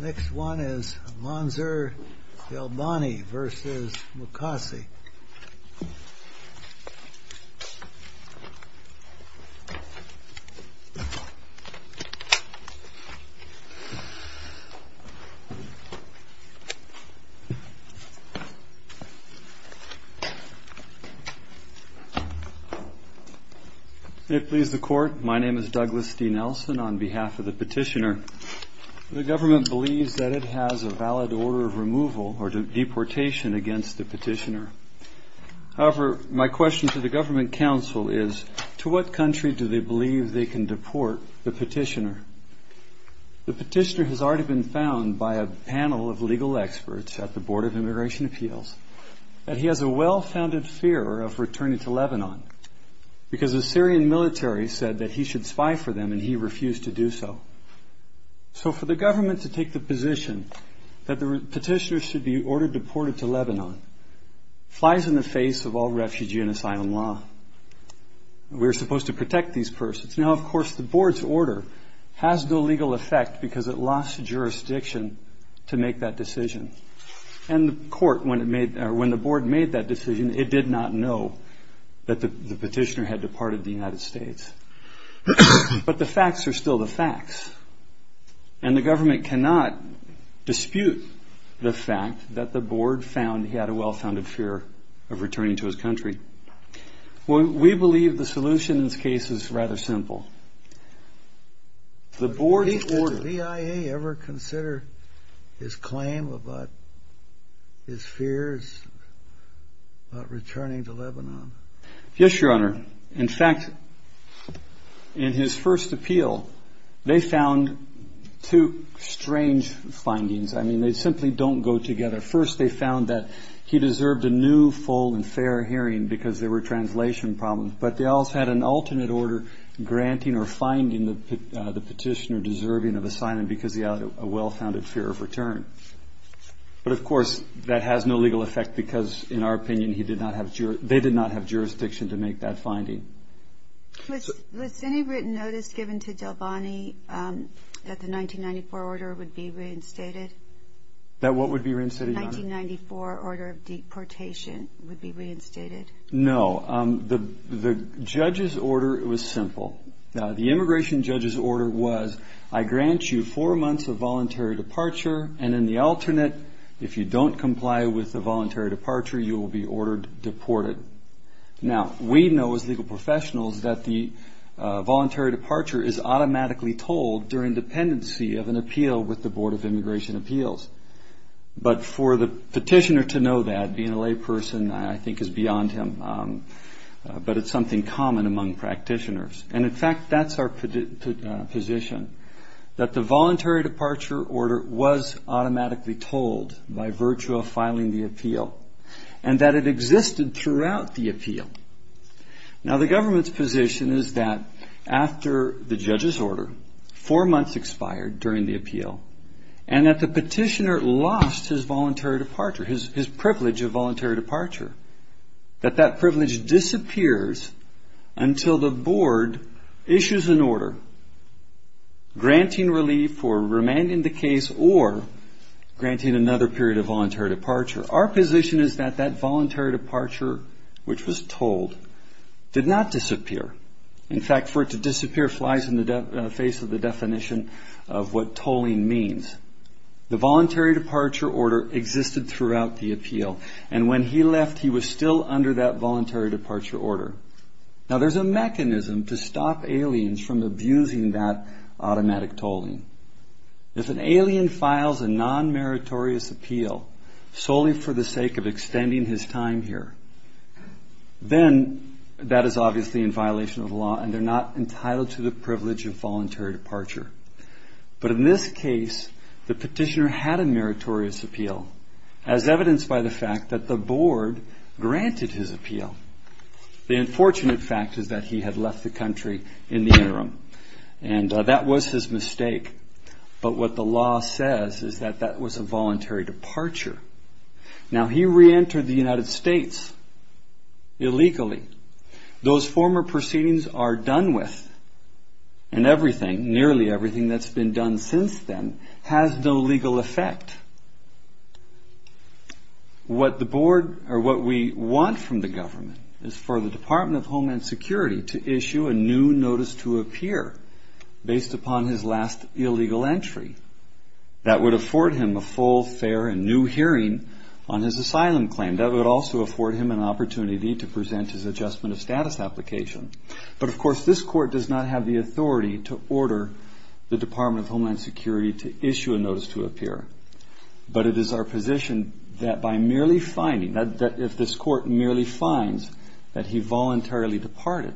Next one is Manzur Delbani v. Mukasey. It please the court. My name is Douglas D. Nelson on behalf of the petitioner. The government believes that it has a valid order of removal or deportation against the petitioner. However, my question to the government council is, to what country do they believe they can deport the petitioner? The petitioner has already been found by a panel of legal experts at the Board of Immigration Appeals, that he has a well-founded fear of returning to Lebanon, because the Syrian military said that he should spy for them and he refused to do so. So for the government to take the position that the petitioner should be ordered deported to Lebanon, flies in the face of all refugee and asylum law. We are supposed to protect these persons. Now, of course, the board's order has no legal effect because it lost jurisdiction to make that decision. And the court, when the board made that decision, it did not know that the petitioner had departed the United States. But the facts are still the facts. And the government cannot dispute the fact that the board found he had a well-founded fear of returning to his country. We believe the solution in this case is rather simple. Does the BIA ever consider his claim about his fears about returning to Lebanon? Yes, Your Honor. In fact, in his first appeal, they found two strange findings. I mean, they simply don't go together. First, they found that he deserved a new full and fair hearing because there were translation problems. But they also had an alternate order granting or finding the petitioner deserving of asylum because he had a well-founded fear of return. But, of course, that has no legal effect because, in our opinion, they did not have jurisdiction to make that finding. Was any written notice given to Delvani that the 1994 order would be reinstated? That what would be reinstated, Your Honor? The 1994 order of deportation would be reinstated. No. The judge's order was simple. The immigration judge's order was, I grant you four months of voluntary departure, and in the alternate, if you don't comply with the voluntary departure, you will be ordered deported. Now, we know as legal professionals that the voluntary departure is automatically told during dependency of an appeal with the Board of Immigration Appeals. But for the petitioner to know that, being a layperson, I think is beyond him. But it's something common among practitioners. And, in fact, that's our position, that the voluntary departure order was automatically told by virtue of filing the appeal, and that it existed throughout the appeal. Now, the government's position is that after the judge's order, four months expired during the appeal, and that the petitioner was ordered deported. That the petitioner lost his voluntary departure, his privilege of voluntary departure. That that privilege disappears until the board issues an order granting relief for remaining the case or granting another period of voluntary departure. Our position is that that voluntary departure, which was told, did not disappear. In fact, for it to disappear flies in the face of the definition of what tolling means. The voluntary departure order existed throughout the appeal, and when he left, he was still under that voluntary departure order. Now, there's a mechanism to stop aliens from abusing that automatic tolling. If an alien files a non-meritorious appeal solely for the sake of extending his time here, then that is obviously in violation of the law, and they're not entitled to the privilege of voluntary departure. But in this case, the petitioner had a meritorious appeal, as evidenced by the fact that the board granted his appeal. The unfortunate fact is that he had left the country in the interim, and that was his mistake. But what the law says is that that was a voluntary departure. Now, he reentered the United States illegally. Those former proceedings are done with, and nearly everything that's been done since then has no legal effect. What we want from the government is for the Department of Homeland Security to issue a new notice to appear based upon his last illegal entry. That would afford him a full, fair, and new hearing on his asylum claim. That would also afford him an opportunity to present his adjustment of status application. But, of course, this court does not have the authority to order the Department of Homeland Security to issue a notice to appear. But it is our position that by merely finding, that if this court merely finds that he voluntarily departed,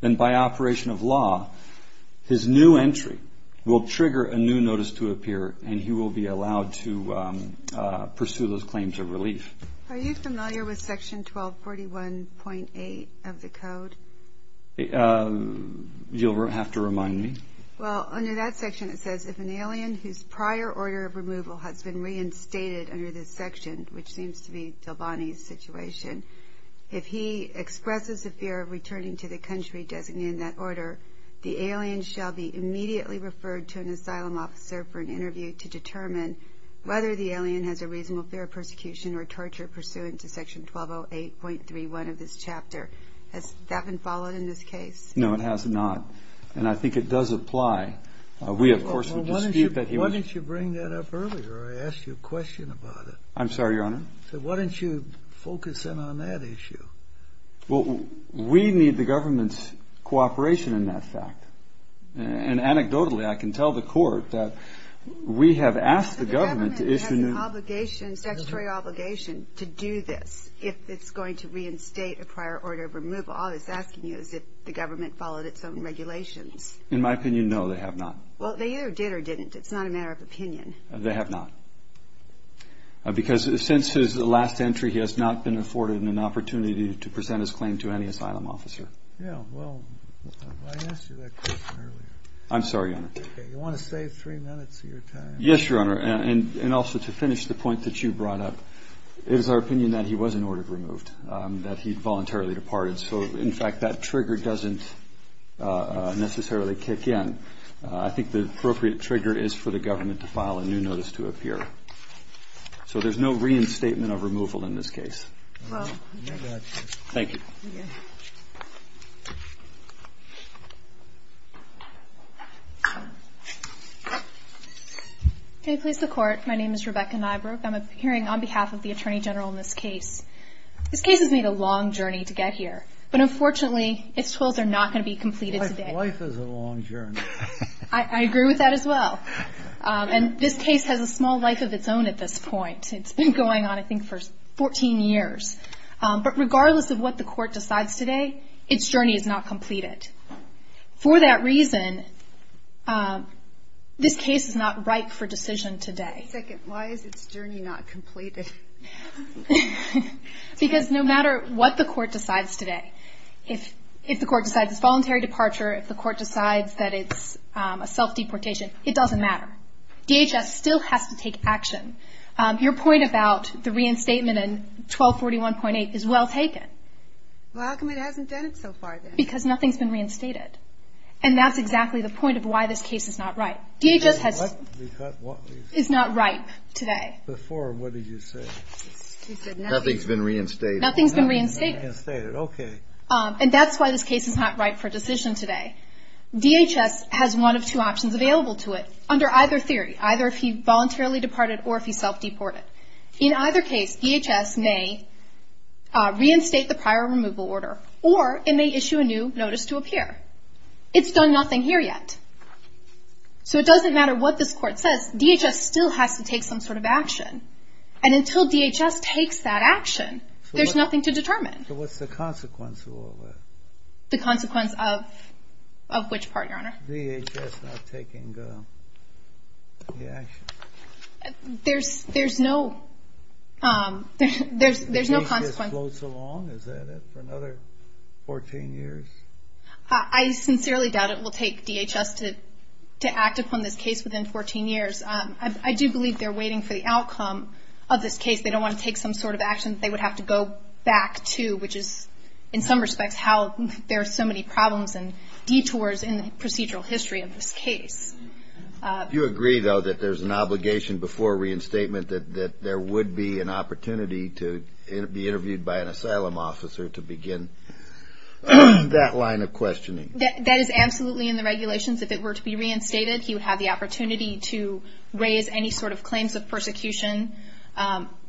then by operation of law, his new entry will trigger a new notice to appear, and he will be allowed to pursue those claims of relief. Are you familiar with Section 1241.8 of the Code? You'll have to remind me. I'm sorry, Your Honor. No, it has not, and I think it does apply. We, of course, would dispute that he was... Well, why didn't you bring that up earlier? I asked you a question about it. I'm sorry, Your Honor. Why didn't you focus in on that issue? Well, we need the government's cooperation in that fact, and anecdotally, I can tell the Court that we have asked the government to issue new... But the government has an obligation, statutory obligation, to do this, if it's going to reinstate a prior order of removal. All it's asking you is if the government followed its own regulations. In my opinion, no, they have not. Well, they either did or didn't. It's not a matter of opinion. They have not, because since his last entry, he has not been afforded an opportunity to present his claim to any asylum officer. Yeah, well, I asked you that question earlier. I'm sorry, Your Honor. You want to save three minutes of your time? Yes, Your Honor, and also to finish the point that you brought up. It is our opinion that he was an order removed, that he voluntarily departed. So, in fact, that trigger doesn't necessarily kick in. I think the appropriate trigger is for the government to file a new notice to appear. So there's no reinstatement of removal in this case. Thank you. Can you please support? My name is Rebecca Nybrook. I'm appearing on behalf of the Attorney General in this case. This case has made a long journey to get here, but unfortunately, its tools are not going to be completed today. Life is a long journey. I agree with that as well, and this case has a small life of its own at this point. It's been going on, I think, for 14 years. But regardless of what the court decides today, its journey is not completed. For that reason, this case is not ripe for decision today. Wait a second. Why is its journey not completed? Because no matter what the court decides today, if the court decides it's voluntary departure, if the court decides that it's a self-deportation, it doesn't matter. DHS still has to take action. Your point about the reinstatement in 1241.8 is well taken. Well, how come it hasn't done it so far then? Because nothing's been reinstated, and that's exactly the point of why this case is not ripe. DHS is not ripe today. Nothing's been reinstated. And that's why this case is not ripe for decision today. DHS has one of two options available to it under either theory, either if he voluntarily departed or if he self-deported. In either case, DHS may reinstate the prior removal order, or it may issue a new notice to appear. It's done nothing here yet. So it doesn't matter what this court says. DHS still has to take some sort of action. And until DHS takes that action, there's nothing to determine. So what's the consequence of all that? The consequence of which part, Your Honor? DHS not taking the action. There's no consequence. DHS floats along, is that it, for another 14 years? I sincerely doubt it will take DHS to act upon this case within 14 years. I do believe they're waiting for the outcome of this case. They don't want to take some sort of action that they would have to go back to, which is, in some respects, how there are so many problems and detours in the procedural history of this case. Do you agree, though, that there's an obligation before reinstatement that there would be an opportunity to be interviewed by an asylum officer to begin that line of questioning? That is absolutely in the regulations. If it were to be reinstated, he would have the opportunity to raise any sort of claims of persecution,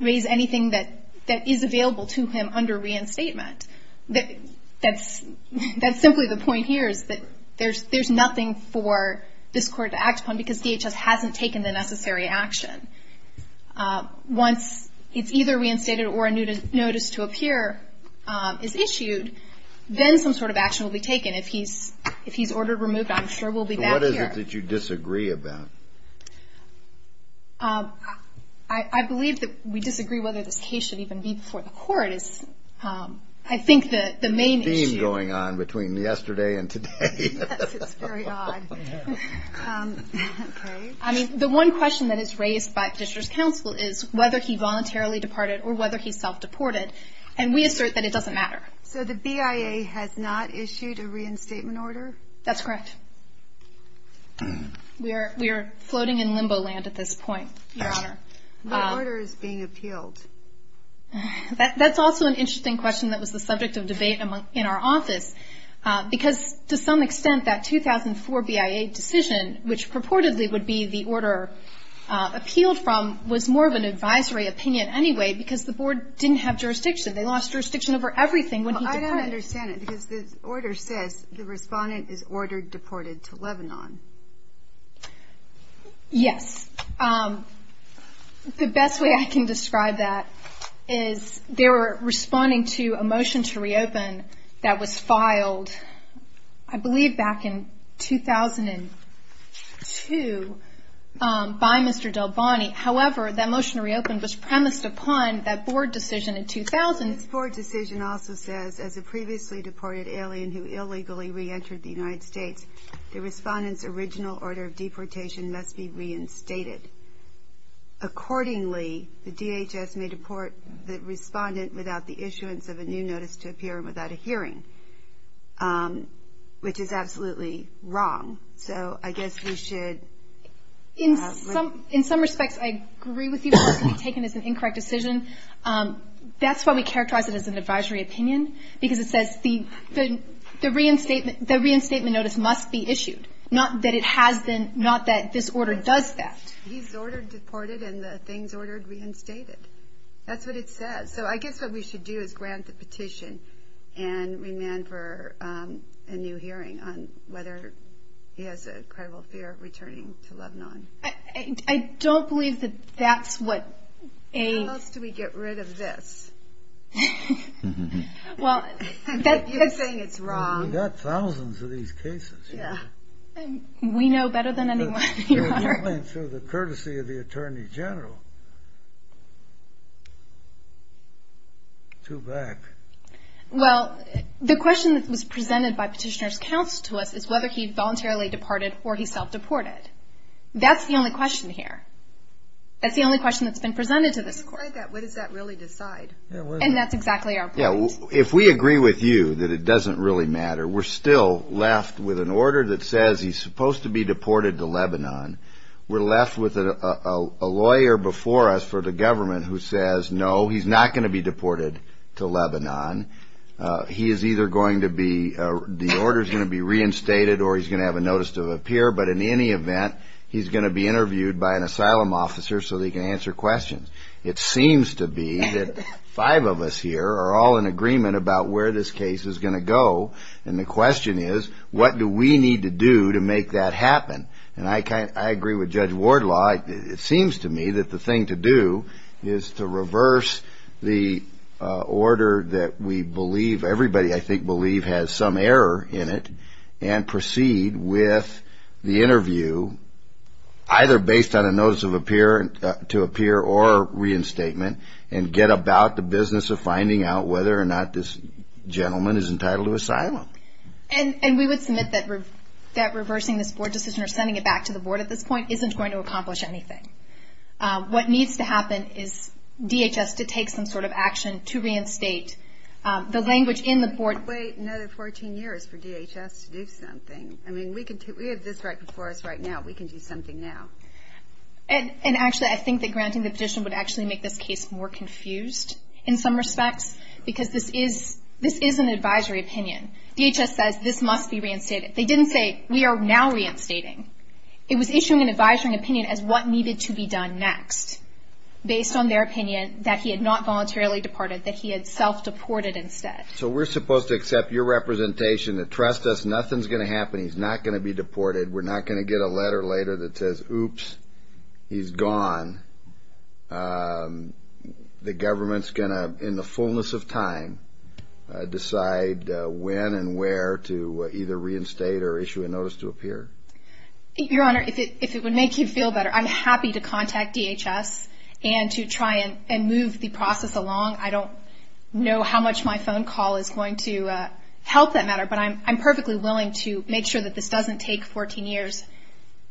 raise anything that is available to him under reinstatement. That's simply the point here, is that there's nothing for this court to act upon, because DHS hasn't taken the necessary action. Once it's either reinstated or a notice to appear is issued, then some sort of action will be taken. If he's ordered removed, I'm sure we'll be back here. So what is it that you disagree about? I believe that we disagree whether this case should even be before the court is, I think, the main issue. There's a theme going on between yesterday and today. Yes, it's very odd. The one question that is raised by petitioner's counsel is whether he voluntarily departed or whether he self-deported, and we assert that it doesn't matter. So the BIA has not issued a reinstatement order? That's correct. We are floating in limbo land at this point, Your Honor. The order is being appealed. That's also an interesting question that was the subject of debate in our office, because to some extent that 2004 BIA decision, which purportedly would be the order appealed from, was more of an advisory opinion anyway, because the board didn't have jurisdiction. They lost jurisdiction over everything when he departed. I don't understand it, because the order says the respondent is ordered deported to Lebanon. Yes. The best way I can describe that is they were responding to a motion to reopen that was filed, I believe, back in 2002 by Mr. Del Bonnie. However, that motion to reopen was premised upon that board decision in 2000. This board decision also says, as a previously deported alien who illegally reentered the United States, the respondent's original order of deportation must be reinstated. Accordingly, the DHS may deport the respondent without the issuance of a new notice to appear and without a hearing, which is absolutely wrong. So I guess we should... In some respects, I agree with you that it should be taken as an incorrect decision. That's why we characterize it as an advisory opinion, because it says the reinstatement notice must be issued, not that this order does that. He's ordered deported and the things ordered reinstated. That's what it says. So I guess what we should do is grant the petition and remand for a new hearing on whether he has a credible fear of returning to Lebanon. I don't believe that that's what a... How else do we get rid of this? You're saying it's wrong. We've got thousands of these cases. We know better than anyone, Your Honor. Through the courtesy of the Attorney General. Well, the question that was presented by Petitioner's Counsel to us is whether he voluntarily departed or he self-deported. That's the only question here. That's the only question that's been presented to this Court. And that's exactly our point. If we agree with you that it doesn't really matter, we're still left with an order that says he's supposed to be deported to Lebanon. We're left with a lawyer before us for the government who says, no, he's not going to be deported to Lebanon. He is either going to be... Deported or he's going to have a notice to appear. But in any event, he's going to be interviewed by an asylum officer so that he can answer questions. It seems to be that five of us here are all in agreement about where this case is going to go. And the question is, what do we need to do to make that happen? And I agree with Judge Wardlaw. It seems to me that the thing to do is to reverse the order that we believe, everybody, I think, believe has some error in it and proceed with the interview either based on a notice to appear or reinstatement and get about the business of finding out whether or not this gentleman is entitled to asylum. And we would submit that reversing this board decision or sending it back to the board at this point isn't going to accomplish anything. What needs to happen is DHS to take some sort of action to reinstate the language in the board... Wait another 14 years for DHS to do something. I mean, we have this right before us right now. We can do something now. And actually, I think that granting the petition would actually make this case more confused in some respects because this is an advisory opinion. DHS says this must be reinstated. They didn't say we are now reinstating. It was issuing an advisory opinion as what needed to be done next based on their opinion that he had not voluntarily departed, that he had self-deported instead. So we're supposed to accept your representation and trust us nothing's going to happen. He's not going to be deported. We're not going to get a letter later that says, oops, he's gone. The government's going to, in the fullness of time, decide when and where to either reinstate or issue a notice to appear. Your Honor, if it would make you feel better, I'm happy to contact DHS and to try and move the process along. I don't know how much my phone call is going to help that matter, but I'm perfectly willing to make sure that this doesn't take 14 years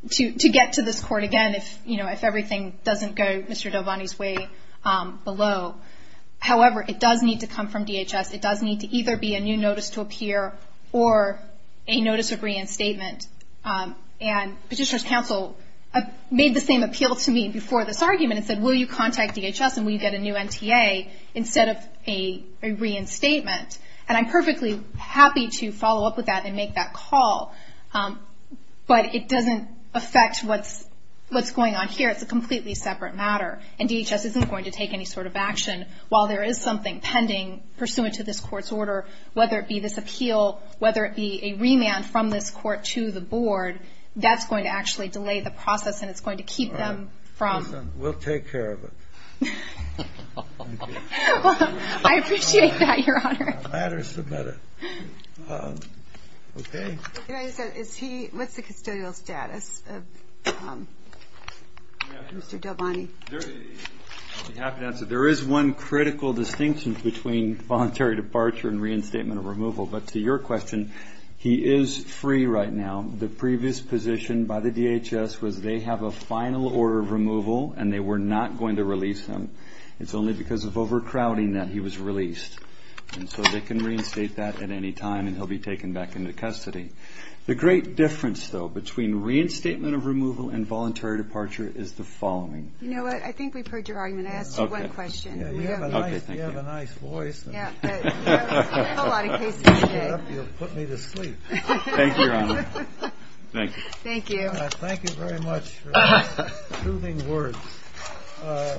to get to this Court again if everything doesn't go Mr. Delvani's way below. However, it does need to come from DHS. It does need to either be a new notice to appear or a notice of reinstatement. And Petitioner's Counsel made the same appeal to me before this argument and said, will you contact DHS and will you get a new NTA instead of a reinstatement? And I'm perfectly happy to follow up with that and make that call, but it doesn't affect what's going on here. It's a completely separate matter. And DHS isn't going to take any sort of action while there is something pending pursuant to this Court's order, whether it be this appeal, whether it be a remand from this Court to the Board. That's going to actually delay the process and it's going to keep them from. We'll take care of it. I appreciate that, Your Honor. What's the custodial status of Mr. Delvani? I'll be happy to answer. There is one critical distinction between voluntary departure and reinstatement of removal. But to your question, he is free right now. The previous position by the DHS was they have a final order of removal and they were not going to release him. It's only because of overcrowding that he was released. And so they can reinstate that at any time and he'll be taken back into custody. The great difference, though, between reinstatement of removal and voluntary departure is the following. You know what? I think we've heard your argument. I asked you one question. You have a nice voice. Thank you, Your Honor.